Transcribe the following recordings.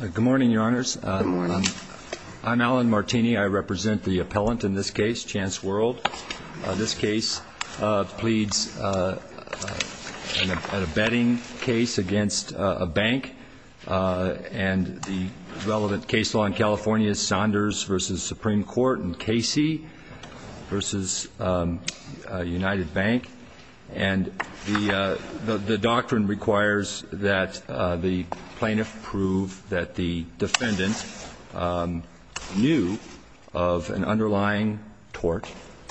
Good morning, Your Honors. Good morning. I'm Alan Martini. I represent the appellant in this case, Chance World. This case pleads a betting case against a bank, and the relevant case law in California is Saunders v. Supreme Court and Casey v. United Bank. And the doctrine requires that the plaintiff prove that the defendant knew of an underlying tort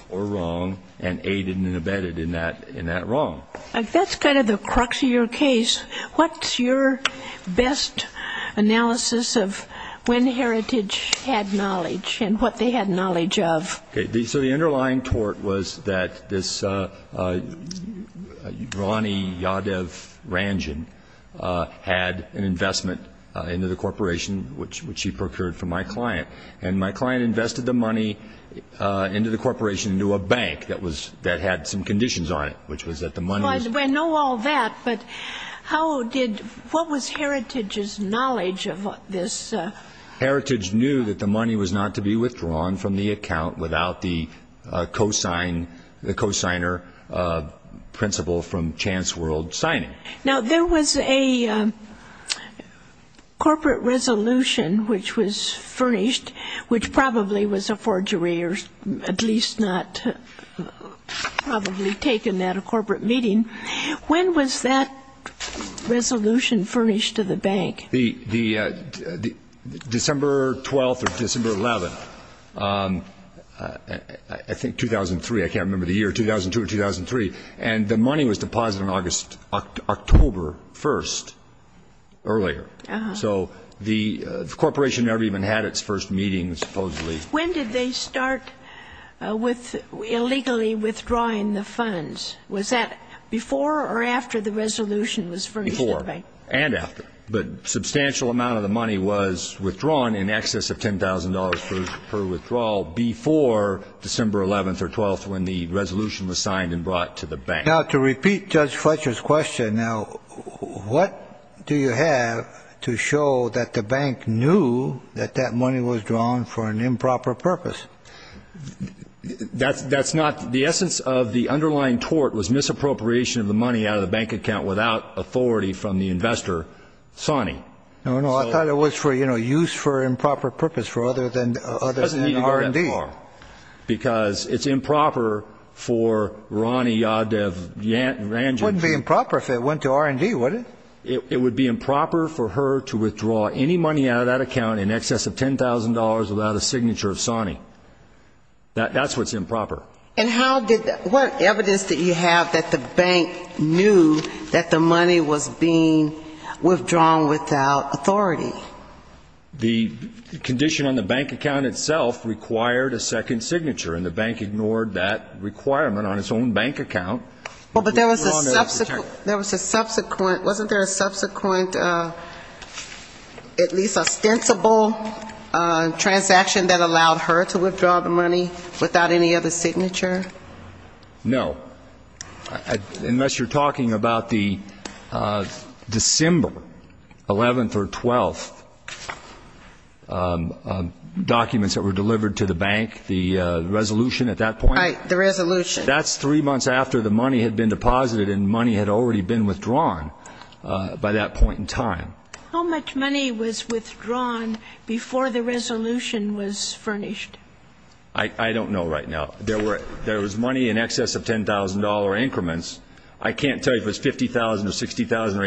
or wrong and aided and abetted in that wrong. If that's kind of the crux of your case, what's your best analysis of when Heritage had knowledge and what they had knowledge of? So the underlying Yadav Ranjan had an investment into the corporation, which he procured from my client. And my client invested the money into the corporation into a bank that had some conditions on it, which was that the money was- I know all that, but what was Heritage's knowledge of this? Heritage knew that the money was not to be withdrawn from the account without the cosigner principle from Chance World signing. Now, there was a corporate resolution which was furnished, which probably was a forgery or at least not probably taken at a corporate meeting. When was that resolution furnished to the bank? December 12th or December 11th, I think 2003. I can't remember the year, 2002 or 2003. And the money was deposited on October 1st earlier. So the corporation never even had its first meeting, supposedly. When did they start illegally withdrawing the funds? Was that before or after the resolution was furnished to the bank? Before and after. But a substantial amount of the money was withdrawn in excess of $10,000 per withdrawal before December 11th or 12th when the resolution was signed and brought to the bank. Now, to repeat Judge Fletcher's question, now, what do you have to show that the bank knew that that money was drawn for an improper purpose? That's not- the essence of the underlying tort was misappropriation of the money out of the bank account without authority from the investor, Sonny. No, no, I thought it was for, you know, use for improper purpose rather than R&D. Because it's improper for Ronnie Yadev- It wouldn't be improper if it went to R&D, would it? It would be improper for her to withdraw any money out of that account in excess of $10,000 without a signature of Sonny. That's what's improper. And how did that- what evidence did you have that the bank knew that the money was being The condition on the bank account itself required a second signature, and the bank ignored that requirement on its own bank account. Well, but there was a subsequent- wasn't there a subsequent at least ostensible transaction that allowed her to withdraw the money without any other signature? No. Unless you're talking about the December 11th or 12th documents that were delivered to the bank, the resolution at that point. Right, the resolution. That's three months after the money had been deposited and money had already been withdrawn by that point in time. How much money was withdrawn before the resolution was furnished? I don't know right now. There was money in excess of $10,000 increments. I can't tell you if it was $50,000 or $60,000 or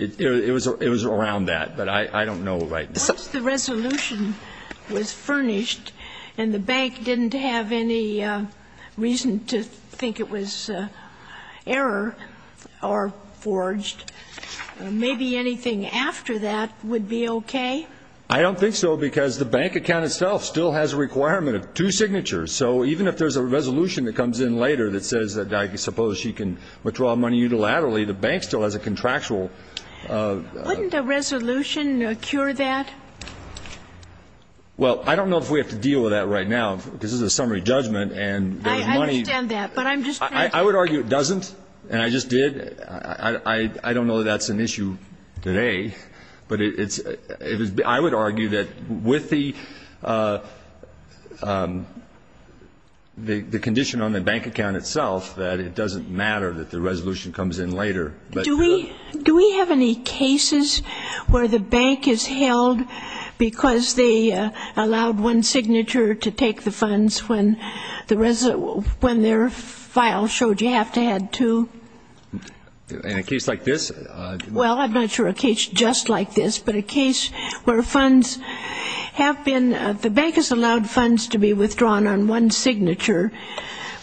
$80,000. It was around that, but I don't know right now. Once the resolution was furnished and the bank didn't have any reason to think it was error or forged, maybe anything after that would be okay? I don't think so, because the bank account itself still has a requirement of two signatures. So even if there's a resolution that comes in later that says that I suppose she can withdraw money unilaterally, the bank still has a contractual- Wouldn't a resolution cure that? Well, I don't know if we have to deal with that right now, because this is a summary judgment and there's money- I understand that, but I'm just trying to- I would argue it doesn't, and I just did. I don't know that that's an issue today, but I would argue that with the condition on the bank account itself that it doesn't matter that the resolution comes in later. Do we have any cases where the bank is held because they allowed one signature to take the funds when their file showed you have to add two? In a case like this- Well, I'm not sure a case just like this, but a case where funds have been- the bank has allowed funds to be withdrawn on one signature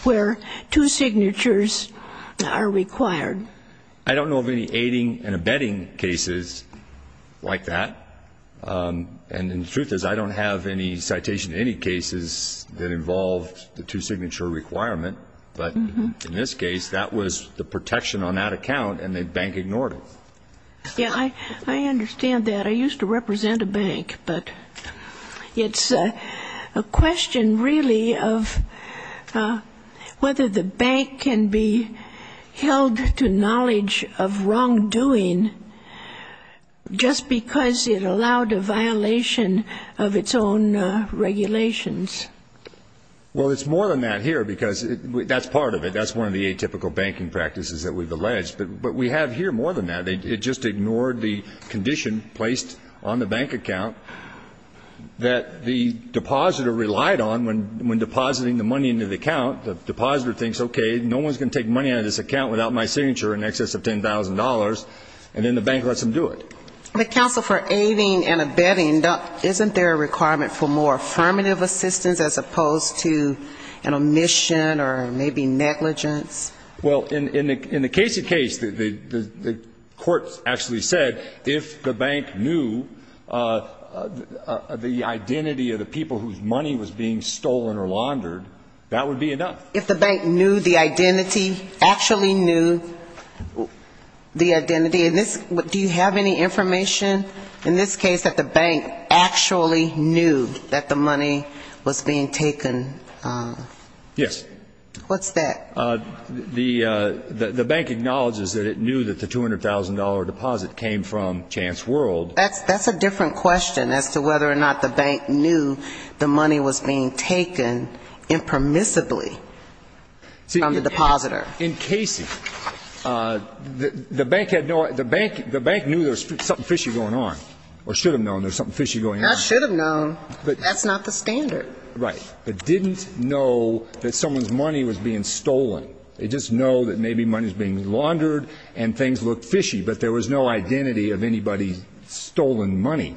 where two signatures are required. I don't know of any aiding and abetting cases like that, and the truth is I don't have any citation of any cases that involved the two signature requirement, but in this case, that was the protection on that account and the bank ignored it. Yeah, I understand that. I used to represent a bank, but it's a question really of whether the bank can be held to knowledge of wrongdoing just because it allowed a violation of its own regulations. Well, it's more than that here, because that's part of it. That's one of the atypical banking practices that we've alleged, but we have here more than that. It just ignored the condition placed on the bank account that the depositor relied on when depositing the money into the account. The depositor thinks, okay, no one's going to take money out of this account without my signature in excess of $10,000, and then the bank lets them do it. The counsel for aiding and abetting, isn't there a requirement for more affirmative assistance as opposed to an omission or maybe negligence? Well, in the case of case, the court actually said if the bank knew the identity of the people whose money was being stolen or laundered, that would be enough. If the bank knew the identity, actually knew the identity, do you have any information in this case that the bank actually knew that the money was being taken? Yes. What's that? The bank acknowledges that it knew that the $200,000 deposit came from Chance World. That's a different question as to whether or not the bank knew the money was being taken impermissibly from the depositor. In Casey, the bank had no idea, the bank knew there was something fishy going on or should have known there was something fishy going on. I should have known. That's not the standard. Right. But didn't know that someone's money was being stolen. They just know that maybe money was being laundered and things looked fishy, but there was no identity of anybody's stolen money.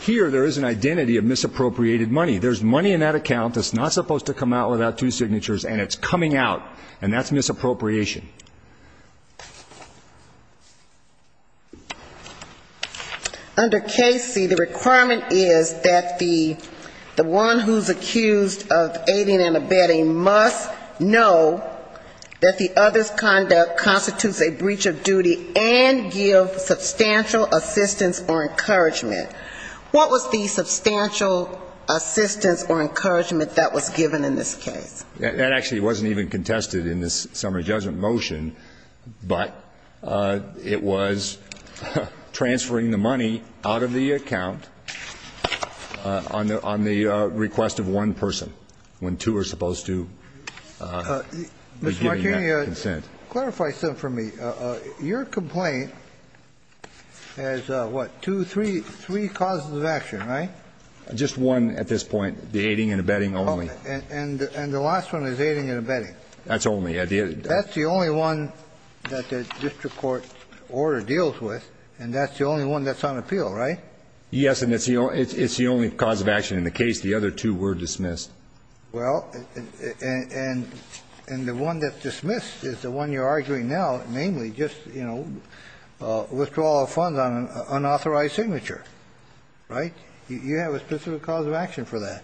Here there is an identity of misappropriated money. There's money in that account that's not supposed to come out without two signatures and it's coming out and that's misappropriation. Under case C, the requirement is that the one who's accused of aiding and abetting must know that the other's conduct constitutes a breach of duty and give substantial assistance or encouragement. What was the substantial assistance or encouragement that was given in this case? That actually wasn't even contested in this summary judgment motion, but it was transferring the money out of the account on the request of one person when two are supposed to be giving that consent. Mr. Martini, clarify something for me. Your complaint has what, two, three causes of action, right? Just one at this point, the aiding and abetting only. And the last one is aiding and abetting. That's the only one that the district court order deals with and that's the only one that's on appeal, right? Yes, and it's the only cause of action in the case the other two were dismissed. Well, and the one that's dismissed is the one you're arguing now, namely just withdrawal of funds on an unauthorized signature, right? You have a specific cause of action for that.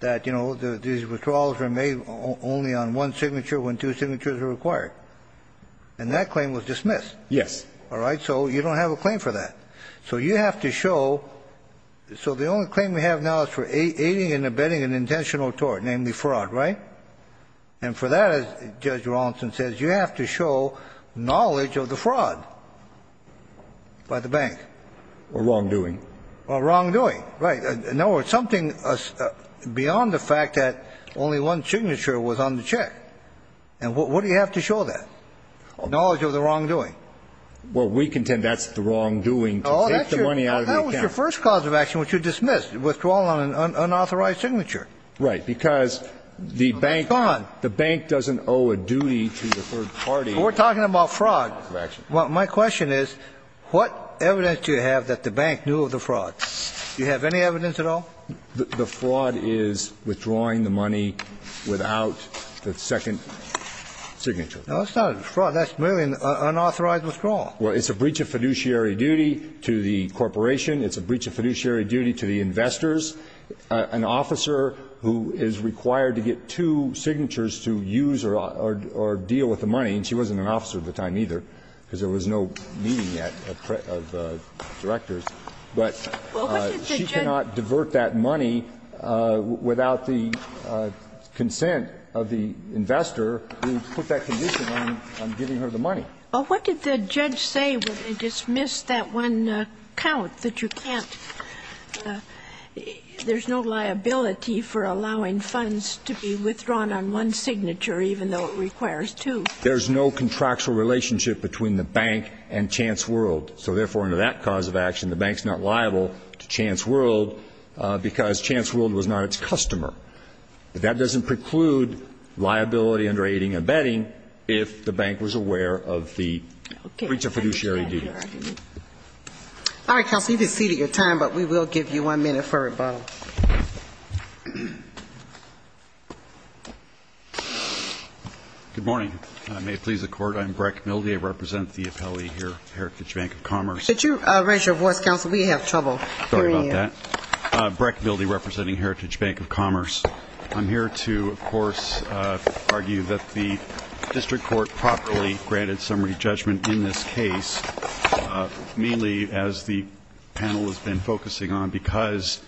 That these withdrawals were made only on one signature when two signatures were required. And that claim was dismissed. Yes. All right, so you don't have a claim for that. So you have to show, so the only claim we have now is for aiding and abetting an intentional tort, namely fraud, right? And for that, as Judge Rawlinson says, you have to show knowledge of the fraud by the bank. Or wrongdoing. Or wrongdoing, right. No, it's something beyond the fact that only one signature was on the check. And what do you have to show that? Knowledge of the wrongdoing. Well, we contend that's the wrongdoing to take the money out of the account. Well, that was your first cause of action, which you dismissed. Withdrawal on an unauthorized signature. Right, because the bank doesn't owe a duty to the third party. We're talking about fraud. Well, my question is what evidence do you have that the bank knew of the fraud? Do you have any evidence at all? The fraud is withdrawing the money without the second signature. No, it's not a fraud. That's merely an unauthorized withdrawal. Well, it's a breach of fiduciary duty to the corporation. It's a breach of fiduciary duty to the investors. An officer who is required to get two signatures to use or deal with the money. And she wasn't an officer at the time either, because there was no meeting yet of directors. But she cannot divert that money without the consent of the investor who put that condition on giving her the money. Well, what did the judge say when they dismissed that one count, that you can't there's no liability for allowing funds to be withdrawn on one signature even though it requires two? There's no contractual relationship between the bank and Chance World. So therefore, under that cause of action, the bank's not liable to Chance World because Chance World was not its customer. That doesn't preclude liability under aiding and abetting if the bank was aware of the breach of fiduciary duty. All right, counsel. You can cede your time, but we will give you one minute for rebuttal. Good morning. May it please the Court. I'm Breck Mildy. I represent the appellee here, Heritage Bank of Commerce. Could you raise your voice, counsel? We have trouble hearing you. Sorry about that. Breck Mildy, representing Heritage Bank of Commerce. I'm here to, of course, argue that the district court properly granted summary judgment in this case, mainly as the panel has been focusing on, because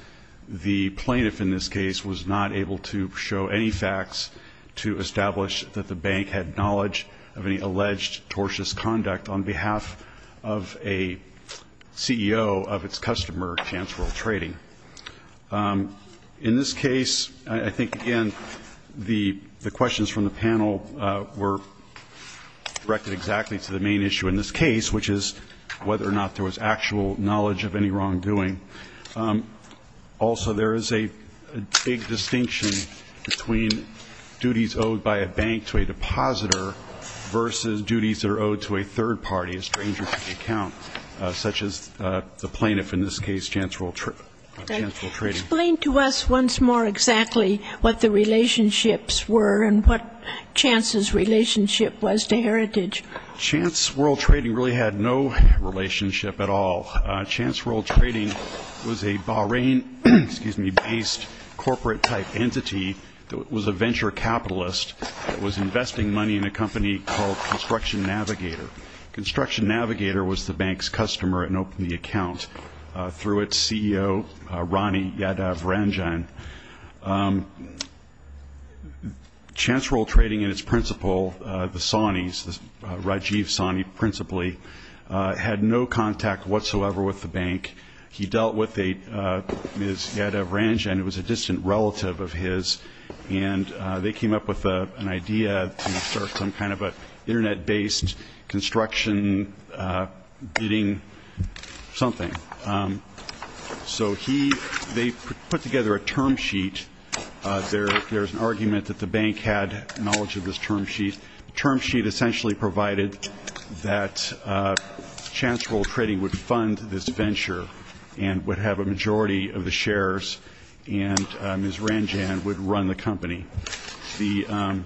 the plaintiff in this case was not able to show any facts to establish that the bank had knowledge of any alleged tortious conduct on behalf of a CEO of its customer, Chance World Trading. In this case, I think, again, the questions from the panel were directed exactly to the main issue in this case, which is whether or not there was actual knowledge of any wrongdoing. Also, there is a big distinction between duties owed by a bank to a depositor versus duties that are owed to a third party, a stranger to the account, such as the plaintiff in this case, Chance World Trading. Explain to us once more exactly what the relationships were and what Chance's relationship was to Heritage. Chance World Trading really had no relationship at all. Chance World Trading was a Bahrain-based corporate-type entity that was a venture capitalist that was investing money in a company called Construction Navigator. Construction Navigator was the bank's customer and opened the account through its CEO, Rani Yadav Ranjan. Chance World Trading and its principal, the Saunis, Rajiv Sauni principally, had no contact whatsoever with the bank. He dealt with Ms. Yadav Ranjan, who was a distant relative of his, and they came up with an idea to start some kind of an Internet-based construction bidding something. So they put together a term sheet. There is an argument that the bank had knowledge of this term sheet. The term sheet essentially provided that Chance World Trading would fund this venture and would have a majority of the shares, and Ms. Ranjan would run the company. The Chance World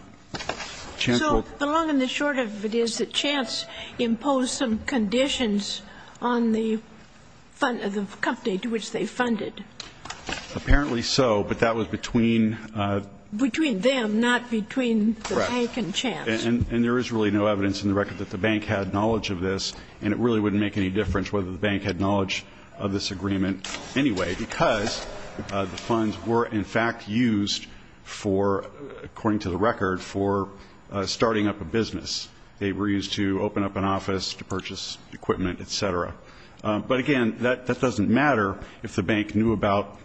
Trading So the long and the short of it is that Chance imposed some conditions on the company to which they funded. Apparently so, but that was between Between them, not between the bank and Chance. And there is really no evidence in the record that the bank had knowledge of this, and it really wouldn't make any difference whether the bank had knowledge of this agreement anyway because the funds were in fact used for, according to the record, for starting up a business. They were used to open up an office, to purchase equipment, et cetera. But again, that doesn't matter if the bank knew about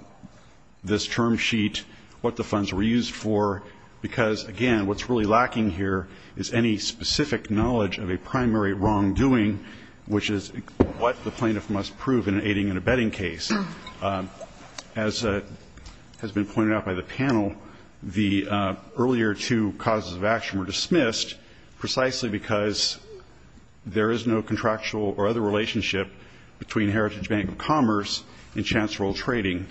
this term sheet, what the funds were used for, because, again, what's really lacking here is any specific knowledge of a primary wrongdoing, which is what the plaintiff must prove in an aiding and abetting case. As has been pointed out by the panel, the earlier two causes of action were dismissed precisely because there is no contractual or other relationship between Heritage Bank of Commerce and Chance World Trading,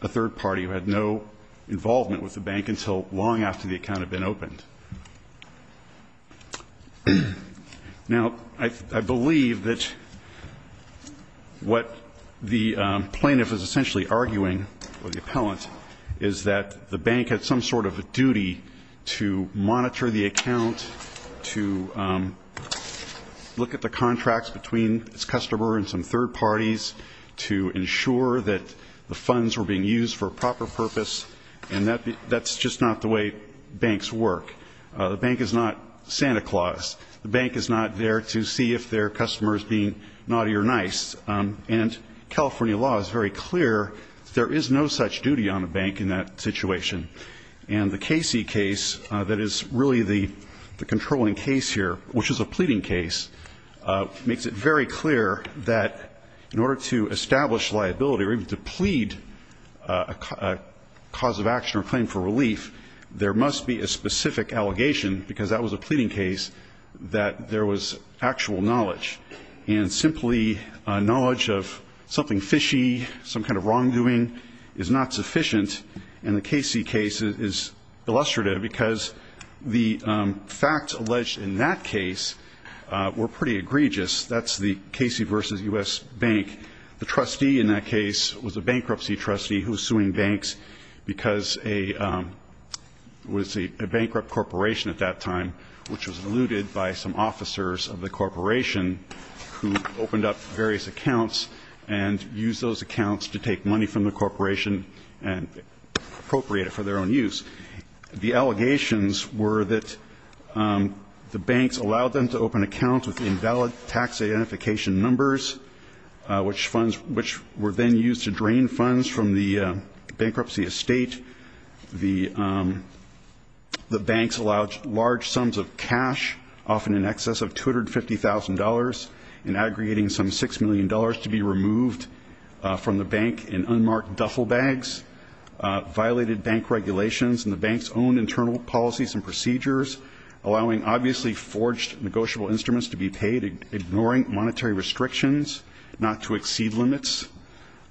a third party who had no involvement with the bank until long after the account had been opened. Now, I believe that what the plaintiff is essentially arguing, or the appellant, is that the bank had some sort of a duty to monitor the account, to look at the contracts between its customer and some third parties, to ensure that the funds were being used for a proper purpose, and that's just not the way banks work. The bank is not Santa Claus. The bank is not there to see if their customer is being naughty or nice. And California law is very clear that there is no such duty on a bank in that situation. And the Casey case that is really the controlling case here, which is a pleading case, makes it very clear that in order to establish liability, or even to plead a cause of action or claim for relief, there must be a specific allegation, because that was a pleading case, that there was actual knowledge. And simply knowledge of something fishy, some kind of wrongdoing, is not sufficient. And the Casey case is illustrative because the facts alleged in that case were pretty egregious. That's the Casey v. U.S. Bank. The trustee in that case was a bankruptcy trustee who was suing banks because it was a bankrupt corporation at that time, which was looted by some officers of the corporation who opened up various accounts and used those accounts to take money from the corporation and appropriate it for their own use. The allegations were that the banks allowed them to open accounts with invalid tax identification numbers, which were then used to drain funds from the bankruptcy estate. The banks allowed large sums of cash, often in excess of $250,000, and aggregating some $6 million to be removed from the bank in unmarked duffel bags, violated bank regulations and the bank's own internal policies and procedures, allowing obviously forged negotiable instruments to be paid, ignoring monetary restrictions not to exceed limits.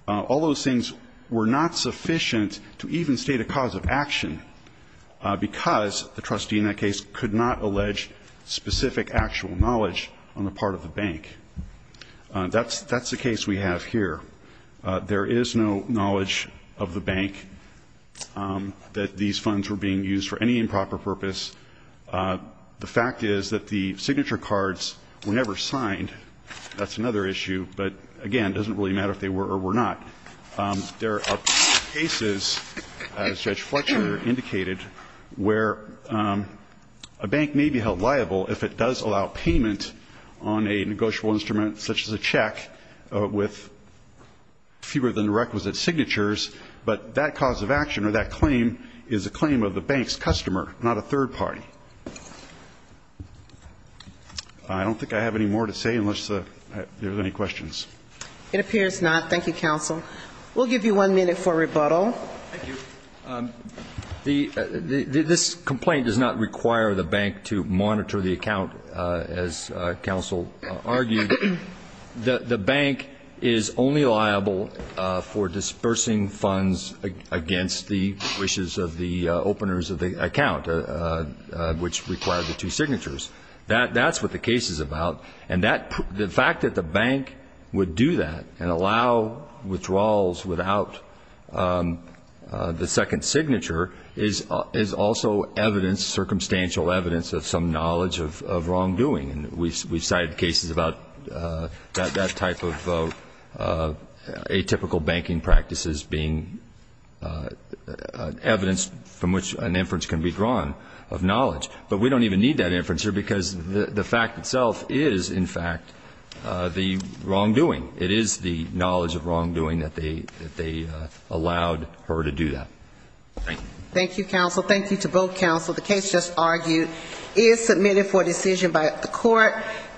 All those things were not sufficient to even state a cause of action because the trustee in that case could not allege specific actual knowledge on the part of the bank. That's the case we have here. There is no knowledge of the bank that these funds were being used for any improper purpose. The fact is that the signature cards were never signed. That's another issue, but again, it doesn't really matter if they were or were not. There are cases, as Judge Fletcher indicated, where a bank may be held liable if it does allow payment on a negotiable instrument such as a check with fewer than the requisite signatures, but that cause of action or that claim is a claim of the bank's customer, not a third party. I don't think I have any more to say unless there are any questions. It appears not. Thank you, counsel. We'll give you one minute for rebuttal. Thank you. This complaint does not require the bank to monitor the account, as counsel argued. The bank is only liable for dispersing funds against the wishes of the openers of the account, which require the two signatures. That's what the case is about, and the fact that the bank would do that and allow withdrawals without the second signature is also evidence, circumstantial evidence of some knowledge of wrongdoing. We've cited cases about that type of atypical banking practices being evidence from which an inference can be drawn of knowledge, but we don't even need that inference here because the fact itself is, in fact, the wrongdoing. It is the knowledge of wrongdoing that they allowed her to do that. Thank you. Thank you, counsel. Thank you to both counsel. The case just argued is submitted for decision by the court.